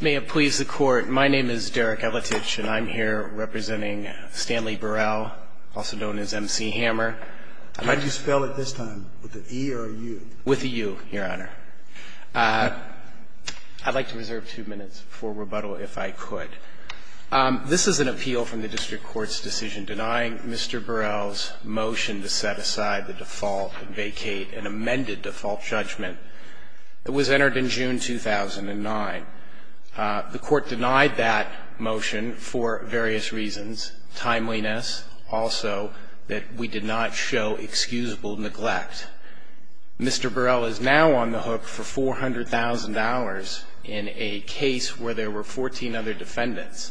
May it please the Court, my name is Derek Elitich, and I'm here representing Stanley Burrell, also known as Mc Hammer. Could you spell it this time, with an E or a U? With a U, Your Honor. I'd like to reserve two minutes for rebuttal, if I could. This is an appeal from the District Court's decision denying Mr. Burrell's motion to set aside the default and vacate an amended default judgment that was entered in June 2009. The Court denied that motion for various reasons, timeliness, also that we did not show excusable neglect. Mr. Burrell is now on the hook for $400,000 in a case where there were 14 other defendants.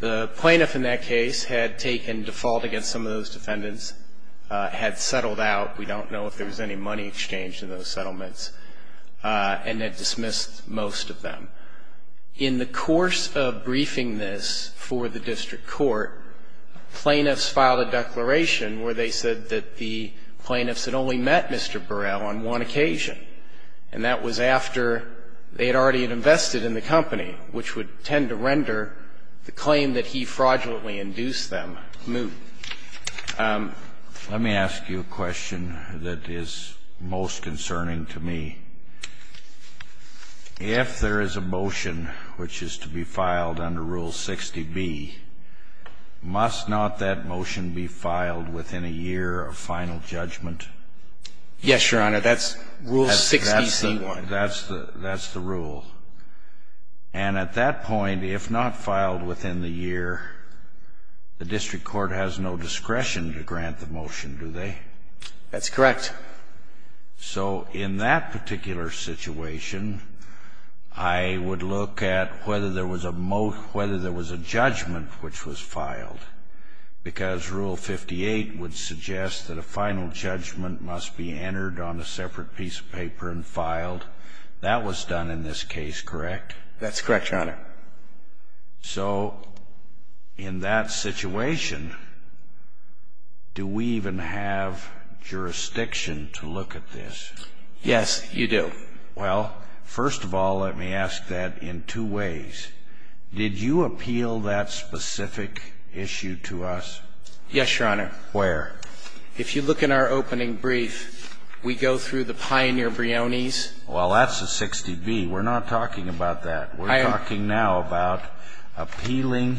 The plaintiff in that case had taken default against some of those defendants, had settled out. We don't know if there was any money exchanged in those settlements, and had dismissed most of them. In the course of briefing this for the District Court, plaintiffs filed a declaration where they said that the plaintiffs had only met Mr. Burrell on one occasion, and that was after they had already invested in the company, which would tend to render the claim that he fraudulently induced them moot. Let me ask you a question that is most concerning to me. If there is a motion which is to be filed under Rule 60B, must not that motion be filed within a year of final judgment? Yes, Your Honor. That's Rule 60C1. That's the rule. And at that point, if not filed within the year, the District Court has no discretion to grant the motion, do they? That's correct. So in that particular situation, I would look at whether there was a judgment which was filed, because Rule 58 would suggest that a final judgment must be entered on a separate piece of paper and filed. That was done in this case, correct? That's correct, Your Honor. So in that situation, do we even have jurisdiction to look at this? Yes, you do. Well, first of all, let me ask that in two ways. Did you appeal that specific issue to us? Yes, Your Honor. Where? If you look in our opening brief, we go through the Pioneer-Briones. Well, that's a 60B. We're not talking about that. We're talking now about appealing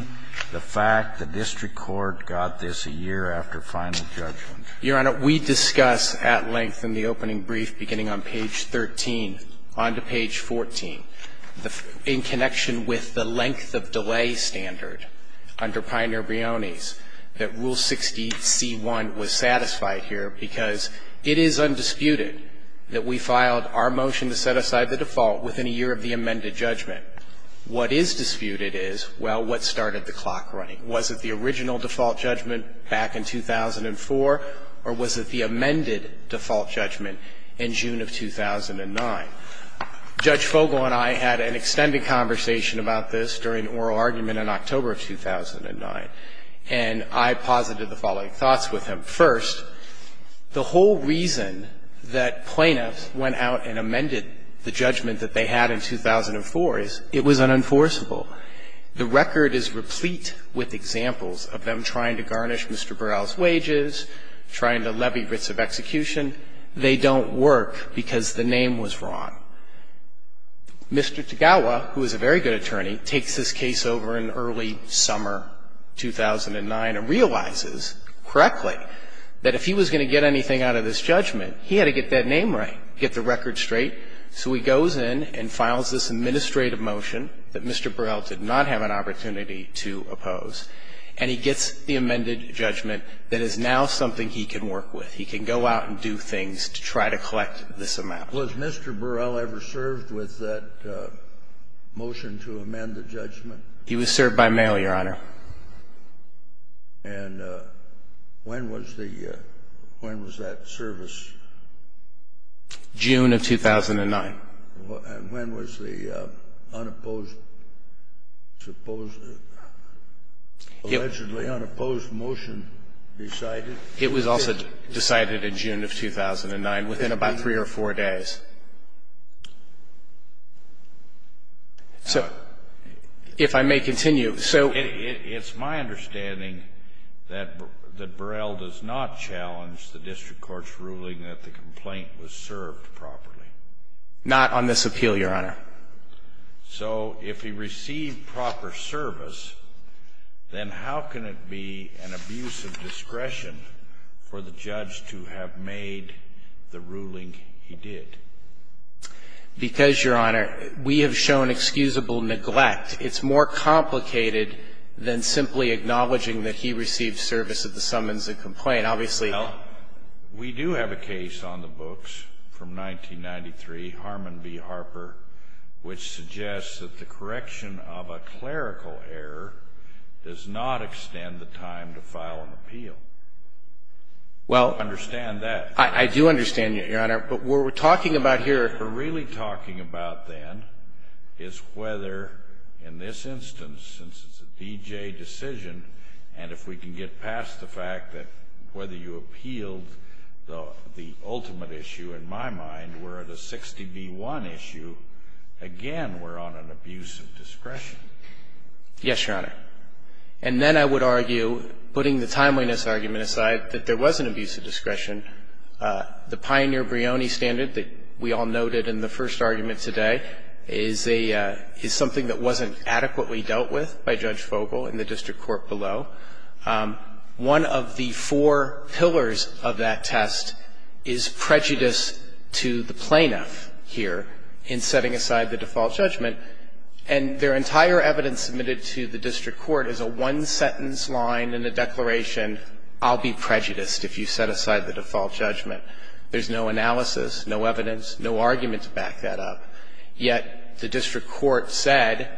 the fact the District Court got this a year after final judgment. Your Honor, we discuss at length in the opening brief, beginning on page 13, on to page 14, in connection with the length of delay standard under Pioneer-Briones that Rule 60C1 was satisfied here, because it is undisputed that we filed our motion to set aside the default within a year of the amended judgment. What is disputed is, well, what started the clock running. Was it the original default judgment back in 2004, or was it the amended default judgment in June of 2009? Judge Fogle and I had an extended conversation about this during oral argument in October of 2009, and I posited the following thoughts with him. First, the whole reason that plaintiffs went out and amended the judgment that they had in 2004 is it was unenforceable. The record is replete with examples of them trying to garnish Mr. Burrell's wages, trying to levy writs of execution. They don't work because the name was wrong. Mr. Tagawa, who is a very good attorney, takes this case over in early summer 2009 and realizes correctly that if he was going to get anything out of this judgment, he had to get that name right, get the record straight. So he goes in and files this administrative motion that Mr. Burrell did not have an opportunity to oppose, and he gets the amended judgment that is now something he can work with. He can go out and do things to try to collect this amount. Was Mr. Burrell ever served with that motion to amend the judgment? He was served by mail, Your Honor. And when was the – when was that service? June of 2009. And when was the unopposed – allegedly unopposed motion decided? It was also decided in June of 2009, within about three or four days. So if I may continue, so – It's my understanding that Burrell does not challenge the district court's ruling that the complaint was served properly. Not on this appeal, Your Honor. So if he received proper service, then how can it be an abuse of discretion for the judge to have made the ruling he did? Because, Your Honor, we have shown excusable neglect. It's more complicated than simply acknowledging that he received service at the summons and complaint. Obviously – Well, we do have a case on the books from 1993, Harmon v. Harper, which suggests that the correction of a clerical error does not extend the time to file an appeal. I don't understand that. I do understand that, Your Honor. But what we're talking about here – What we're really talking about then is whether, in this instance, since it's a D.J. decision, and if we can get past the fact that whether you appealed the ultimate issue, in my mind, we're at a 60 v. 1 issue, again we're on an abuse of discretion. Yes, Your Honor. And then I would argue, putting the timeliness argument aside, that there was an abuse of discretion. The Pioneer-Brioni standard that we all noted in the first argument today is a – is something that wasn't adequately dealt with by Judge Fogel in the district court below. One of the four pillars of that test is prejudice to the plaintiff here in setting aside the default judgment, and their entire evidence submitted to the district court is a one-sentence line in a declaration, I'll be prejudiced if you set aside the default judgment. There's no analysis, no evidence, no argument to back that up. Yet the district court said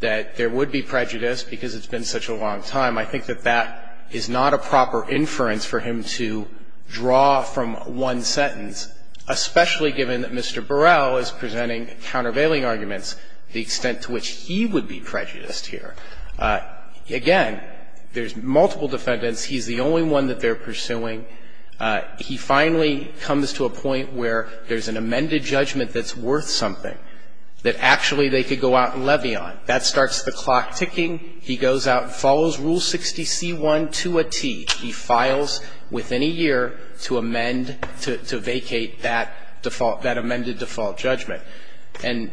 that there would be prejudice because it's been such a long time. I think that that is not a proper inference for him to draw from one sentence, especially given that Mr. Burrell is presenting countervailing arguments, the extent to which he would be prejudiced here. Again, there's multiple defendants. He's the only one that they're pursuing. He finally comes to a point where there's an amended judgment that's worth something, that actually they could go out and levy on. That starts the clock ticking. He goes out and follows Rule 60c1 to a tee. He files within a year to amend, to vacate that default, that amended default judgment. And,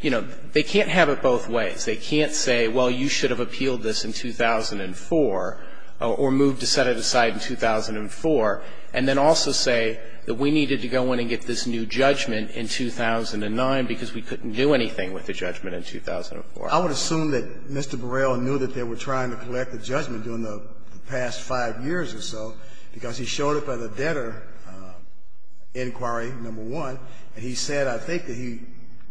you know, they can't have it both ways. They can't say, well, you should have appealed this in 2004 or moved to set it aside in 2004, and then also say that we needed to go in and get this new judgment in 2009 because we couldn't do anything with the judgment in 2004. I would assume that Mr. Burrell knew that they were trying to collect a judgment during the past five years or so because he showed it by the debtor inquiry number one, and he said, I think, that he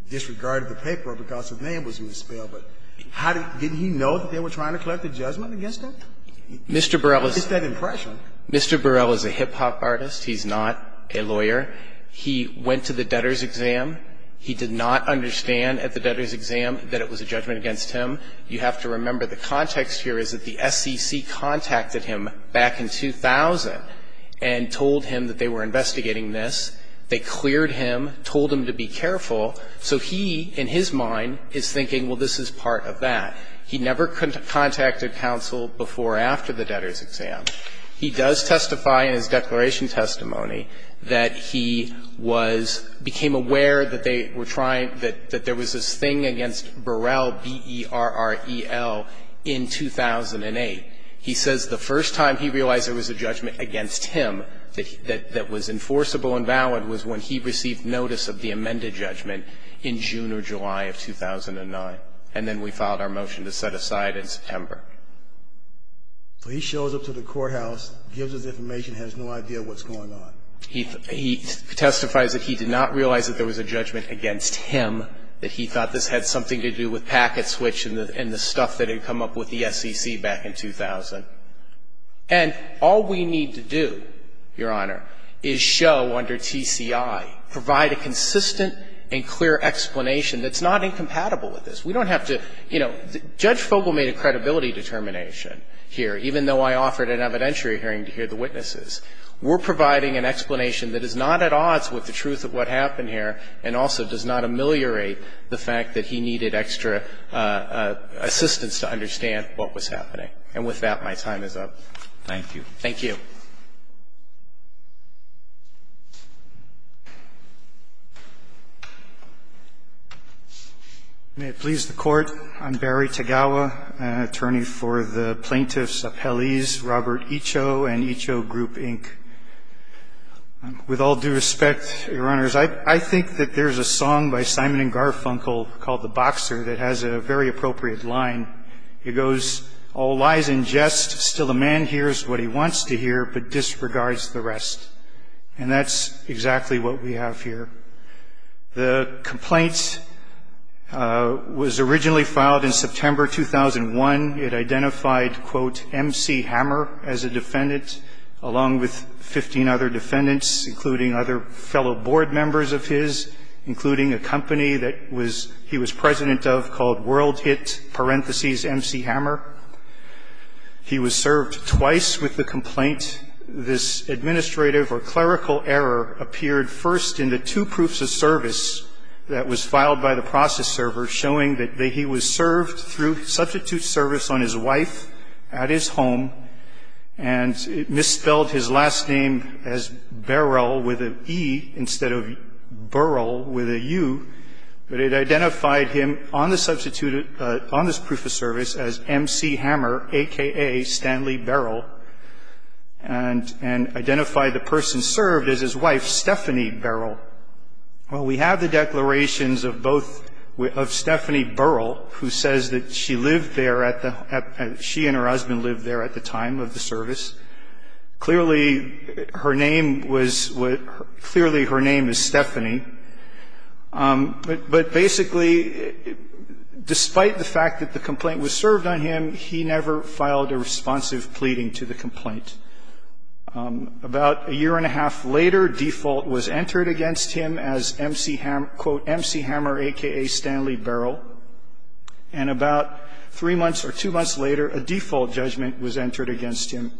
disregarded the paper because the name was misspelled. But how did he know that they were trying to collect a judgment against him? Mr. Burrell is a hip-hop artist. He's not a lawyer. He went to the debtor's exam. He did not understand at the debtor's exam that it was a judgment against him. You have to remember the context here is that the SEC contacted him back in 2000 and told him that they were investigating this. They cleared him, told him to be careful. So he, in his mind, is thinking, well, this is part of that. He never contacted counsel before or after the debtor's exam. He does testify in his declaration testimony that he was, became aware that they were trying, that there was this thing against Burrell, B-E-R-R-E-L, in 2008. He says the first time he realized there was a judgment against him that was enforceable and valid was when he received notice of the amended judgment in June or July of 2009. And then we filed our motion to set aside in September. So he shows up to the courthouse, gives us information, has no idea what's going on. He testifies that he did not realize that there was a judgment against him, that he thought this had something to do with packet switch and the stuff that had come up with the SEC back in 2000. And all we need to do, Your Honor, is show under TCI, provide a consistent and clear explanation that's not incompatible with this. We don't have to, you know, Judge Fogel made a credibility determination here, even though I offered an evidentiary hearing to hear the witnesses. We're providing an explanation that is not at odds with the truth of what happened here and also does not ameliorate the fact that he needed extra assistance to understand what was happening. And with that, my time is up. Thank you. Thank you. Thank you. May it please the Court, I'm Barry Tagawa, attorney for the Plaintiffs Appellees Robert Icho and Icho Group, Inc. With all due respect, Your Honors, I think that there's a song by Simon and Garfunkel called The Boxer that has a very appropriate line. It goes, All lies and jest, still a man hears what he wants to hear but disregards the rest. And that's exactly what we have here. The complaint was originally filed in September 2001. It identified, quote, M.C. Hammer as a defendant along with 15 other defendants, including other fellow board members of his, including a company that he was president of called World Hit, parentheses, M.C. Hammer. He was served twice with the complaint. This administrative or clerical error appeared first in the two proofs of service that was filed by the process server, showing that he was served through substitute service on his wife at his home, and it misspelled his last name as Beryl with an E instead of Beryl with a U. But it identified him on the substitute, on this proof of service, as M.C. Hammer, a.k.a. Stanley Beryl, and identified the person served as his wife, Stephanie Beryl. Well, we have the declarations of both, of Stephanie Beryl, who says that she lived there at the, she and her husband lived there at the time of the service. Clearly, her name was, clearly her name is Stephanie. But basically, despite the fact that the complaint was served on him, he never filed a responsive pleading to the complaint. About a year and a half later, default was entered against him as M.C. Hammer, a.k.a. Stanley Beryl, and about three months or two months later, a default judgment was entered against him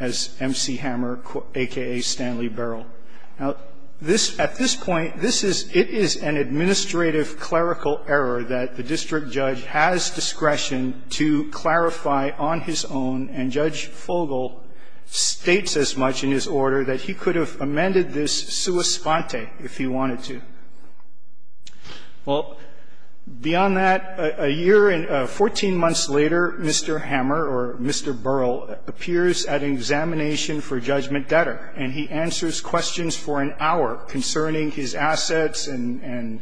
as M.C. Hammer, a.k.a. Stanley Beryl. Now, this, at this point, this is, it is an administrative clerical error that the district judge has discretion to clarify on his own, and Judge Fogle states as much in his order that he could have amended this sua sponte if he wanted to. Well, beyond that, a year and 14 months later, Mr. Hammer or Mr. Beryl appears at an examination for judgment debtor, and he answers questions for an hour concerning his assets and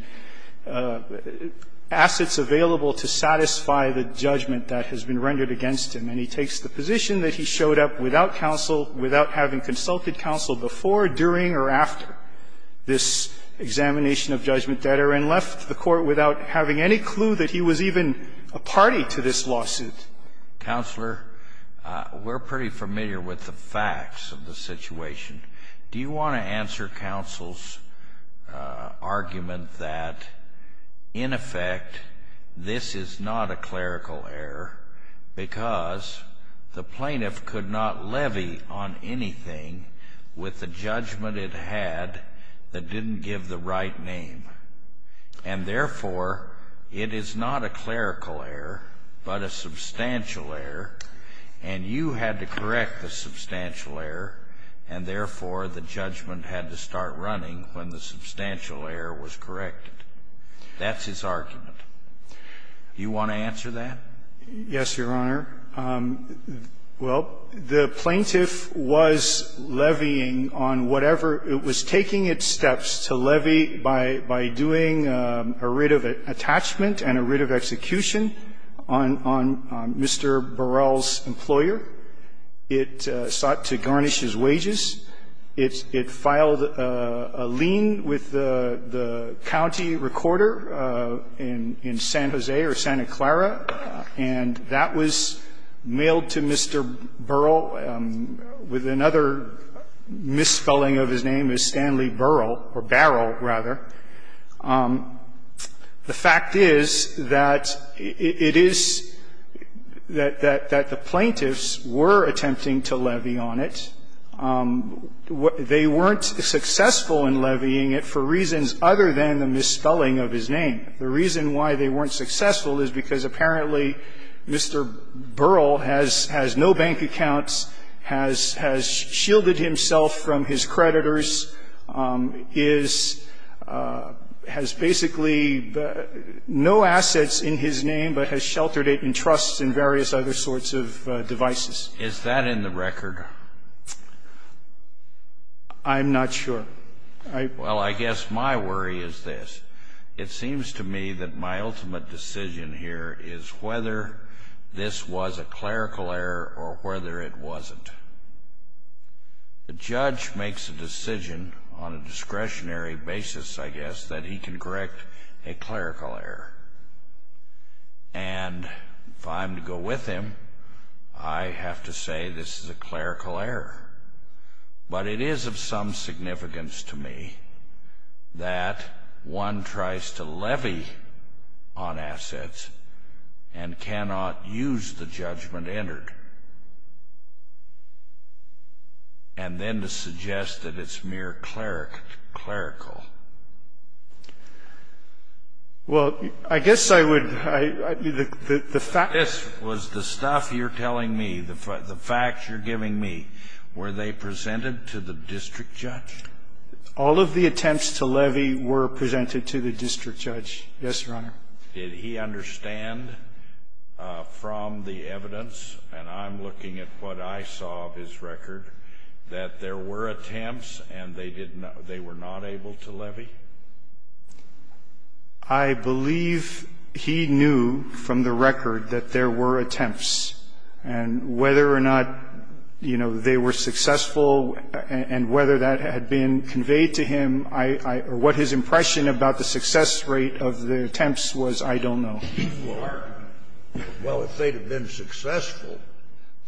assets available to satisfy the judgment that has been rendered against him. And he takes the position that he showed up without counsel, without having consulted counsel before, during, or after this examination of judgment debtor, and left the court without having any clue that he was even a party to this lawsuit. Counselor, we're pretty familiar with the facts of the situation. Do you want to answer counsel's argument that, in effect, this is not a clerical error because the plaintiff could not levy on anything with the judgment it had that didn't give the right name? And, therefore, it is not a clerical error, but a substantial error, and you had to correct the substantial error, and, therefore, the judgment had to start running when the substantial error was corrected? That's his argument. Do you want to answer that? Yes, Your Honor. Well, the plaintiff was levying on whatever. It was taking its steps to levy by doing a writ of attachment and a writ of execution on Mr. Beryl's employer. It sought to garnish his wages. It filed a lien with the county recorder in San Jose or Santa Clara, and that was mailed to Mr. Beryl with another misspelling of his name as Stanley Beryl, or Beryl, rather. The fact is that it is that the plaintiffs were attempting to levy on it. They weren't successful in levying it for reasons other than the misspelling of his name. The reason why they weren't successful is because, apparently, Mr. Beryl has no bank accounts, has shielded himself from his creditors, has basically no assets in his name, but has sheltered it in trusts and various other sorts of devices. Is that in the record? I'm not sure. Well, I guess my worry is this. It seems to me that my ultimate decision here is whether this was a clerical error or whether it wasn't. The judge makes a decision on a discretionary basis, I guess, that he can correct a clerical error. And if I'm to go with him, I have to say this is a clerical error. But it is of some significance to me that one tries to levy on assets and cannot use the judgment entered, and then to suggest that it's mere clerical. Well, I guess I would... This was the stuff you're telling me, the facts you're giving me. Were they presented to the district judge? All of the attempts to levy were presented to the district judge. Yes, Your Honor. Did he understand from the evidence, and I'm looking at what I saw of his record, that there were attempts and they were not able to levy? I believe he knew from the record that there were attempts. And whether or not, you know, they were successful and whether that had been conveyed to him, or what his impression about the success rate of the attempts was, I don't know. Well, if they'd have been successful,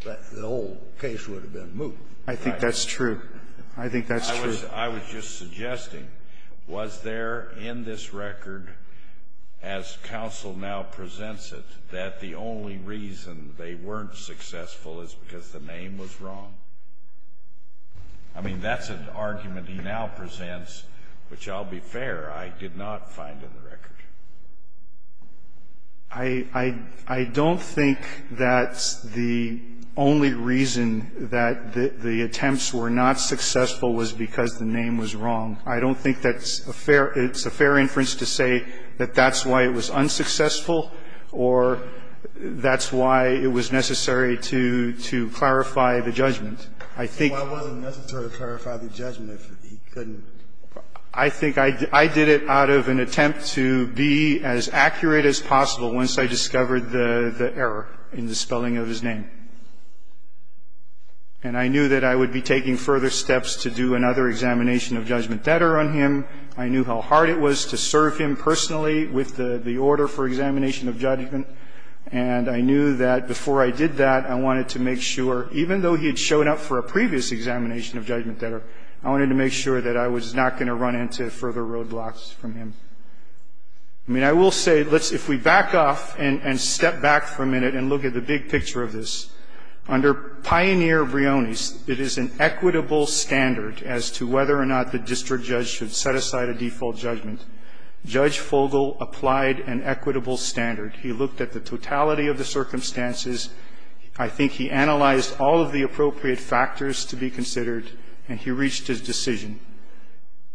the whole case would have been moved. I think that's true. I think that's true. I was just suggesting, was there in this record, as counsel now presents it, that the only reason they weren't successful is because the name was wrong? I mean, that's an argument he now presents, which I'll be fair, I did not find in the record. I don't think that the only reason that the attempts were not successful was because the name was wrong. I don't think that's a fair – it's a fair inference to say that that's why it was unsuccessful or that's why it was necessary to clarify the judgment. I think – It wasn't necessary to clarify the judgment. He couldn't. I think I did it out of an attempt to be as accurate as possible once I discovered the error in the spelling of his name. And I knew that I would be taking further steps to do another examination of judgment debtor on him. I knew how hard it was to serve him personally with the order for examination of judgment. And I knew that before I did that, I wanted to make sure, even though he had shown up for a previous examination of judgment debtor, I wanted to make sure that I was not going to run into further roadblocks from him. I mean, I will say, let's – if we back off and step back for a minute and look at the big picture of this, under Pioneer-Brioni's, it is an equitable standard as to whether or not the district judge should set aside a default judgment. Judge Fogle applied an equitable standard. He looked at the totality of the circumstances. I think he analyzed all of the appropriate factors to be considered, and he reached his decision.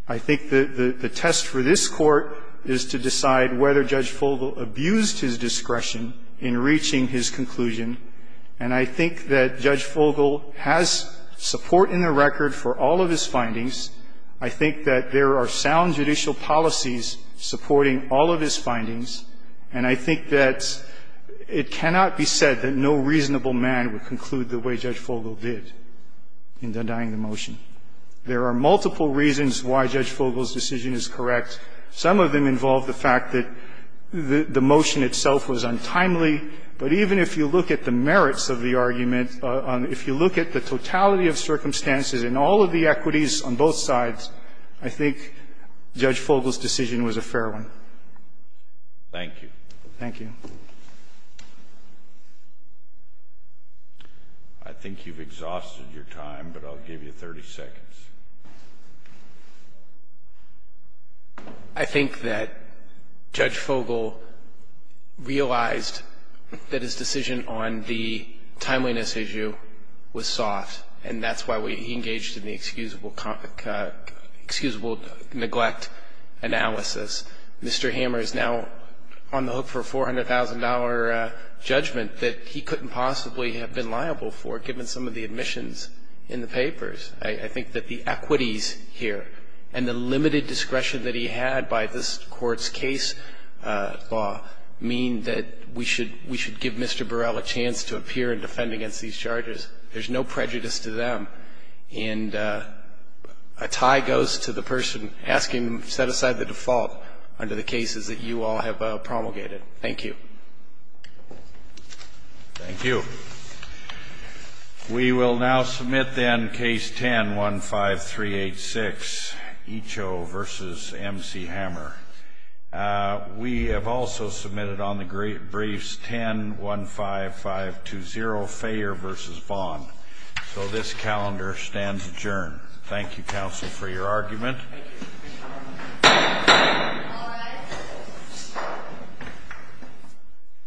I think the test for this Court is to decide whether Judge Fogle abused his discretion in reaching his conclusion. And I think that Judge Fogle has support in the record for all of his findings. I think that there are sound judicial policies supporting all of his findings. And I think that it cannot be said that no reasonable man would conclude the way Judge Fogle did in denying the motion. There are multiple reasons why Judge Fogle's decision is correct. Some of them involve the fact that the motion itself was untimely. But even if you look at the merits of the argument, if you look at the totality of circumstances and all of the equities on both sides, I think Judge Fogle's decision was a fair one. Thank you. Thank you. I think you've exhausted your time, but I'll give you 30 seconds. I think that Judge Fogle realized that his decision on the timeliness issue was soft, and that's why we engaged in the excusable neglect analysis. Mr. Hammer is now on the hook for a $400,000 judgment that he couldn't possibly have been liable for given some of the admissions in the papers. I think that the equities here and the limited discretion that he had by this Court's case law mean that we should give Mr. Burrell a chance to appear and defend against these charges. There's no prejudice to them. And a tie goes to the person asking to set aside the default under the cases that you all have promulgated. Thank you. Thank you. We will now submit, then, Case 10-15386, Icho v. M.C. Hammer. We have also submitted on the briefs 10-15520, Fayer v. Bond. So this calendar stands adjourned. Thank you, counsel, for your argument.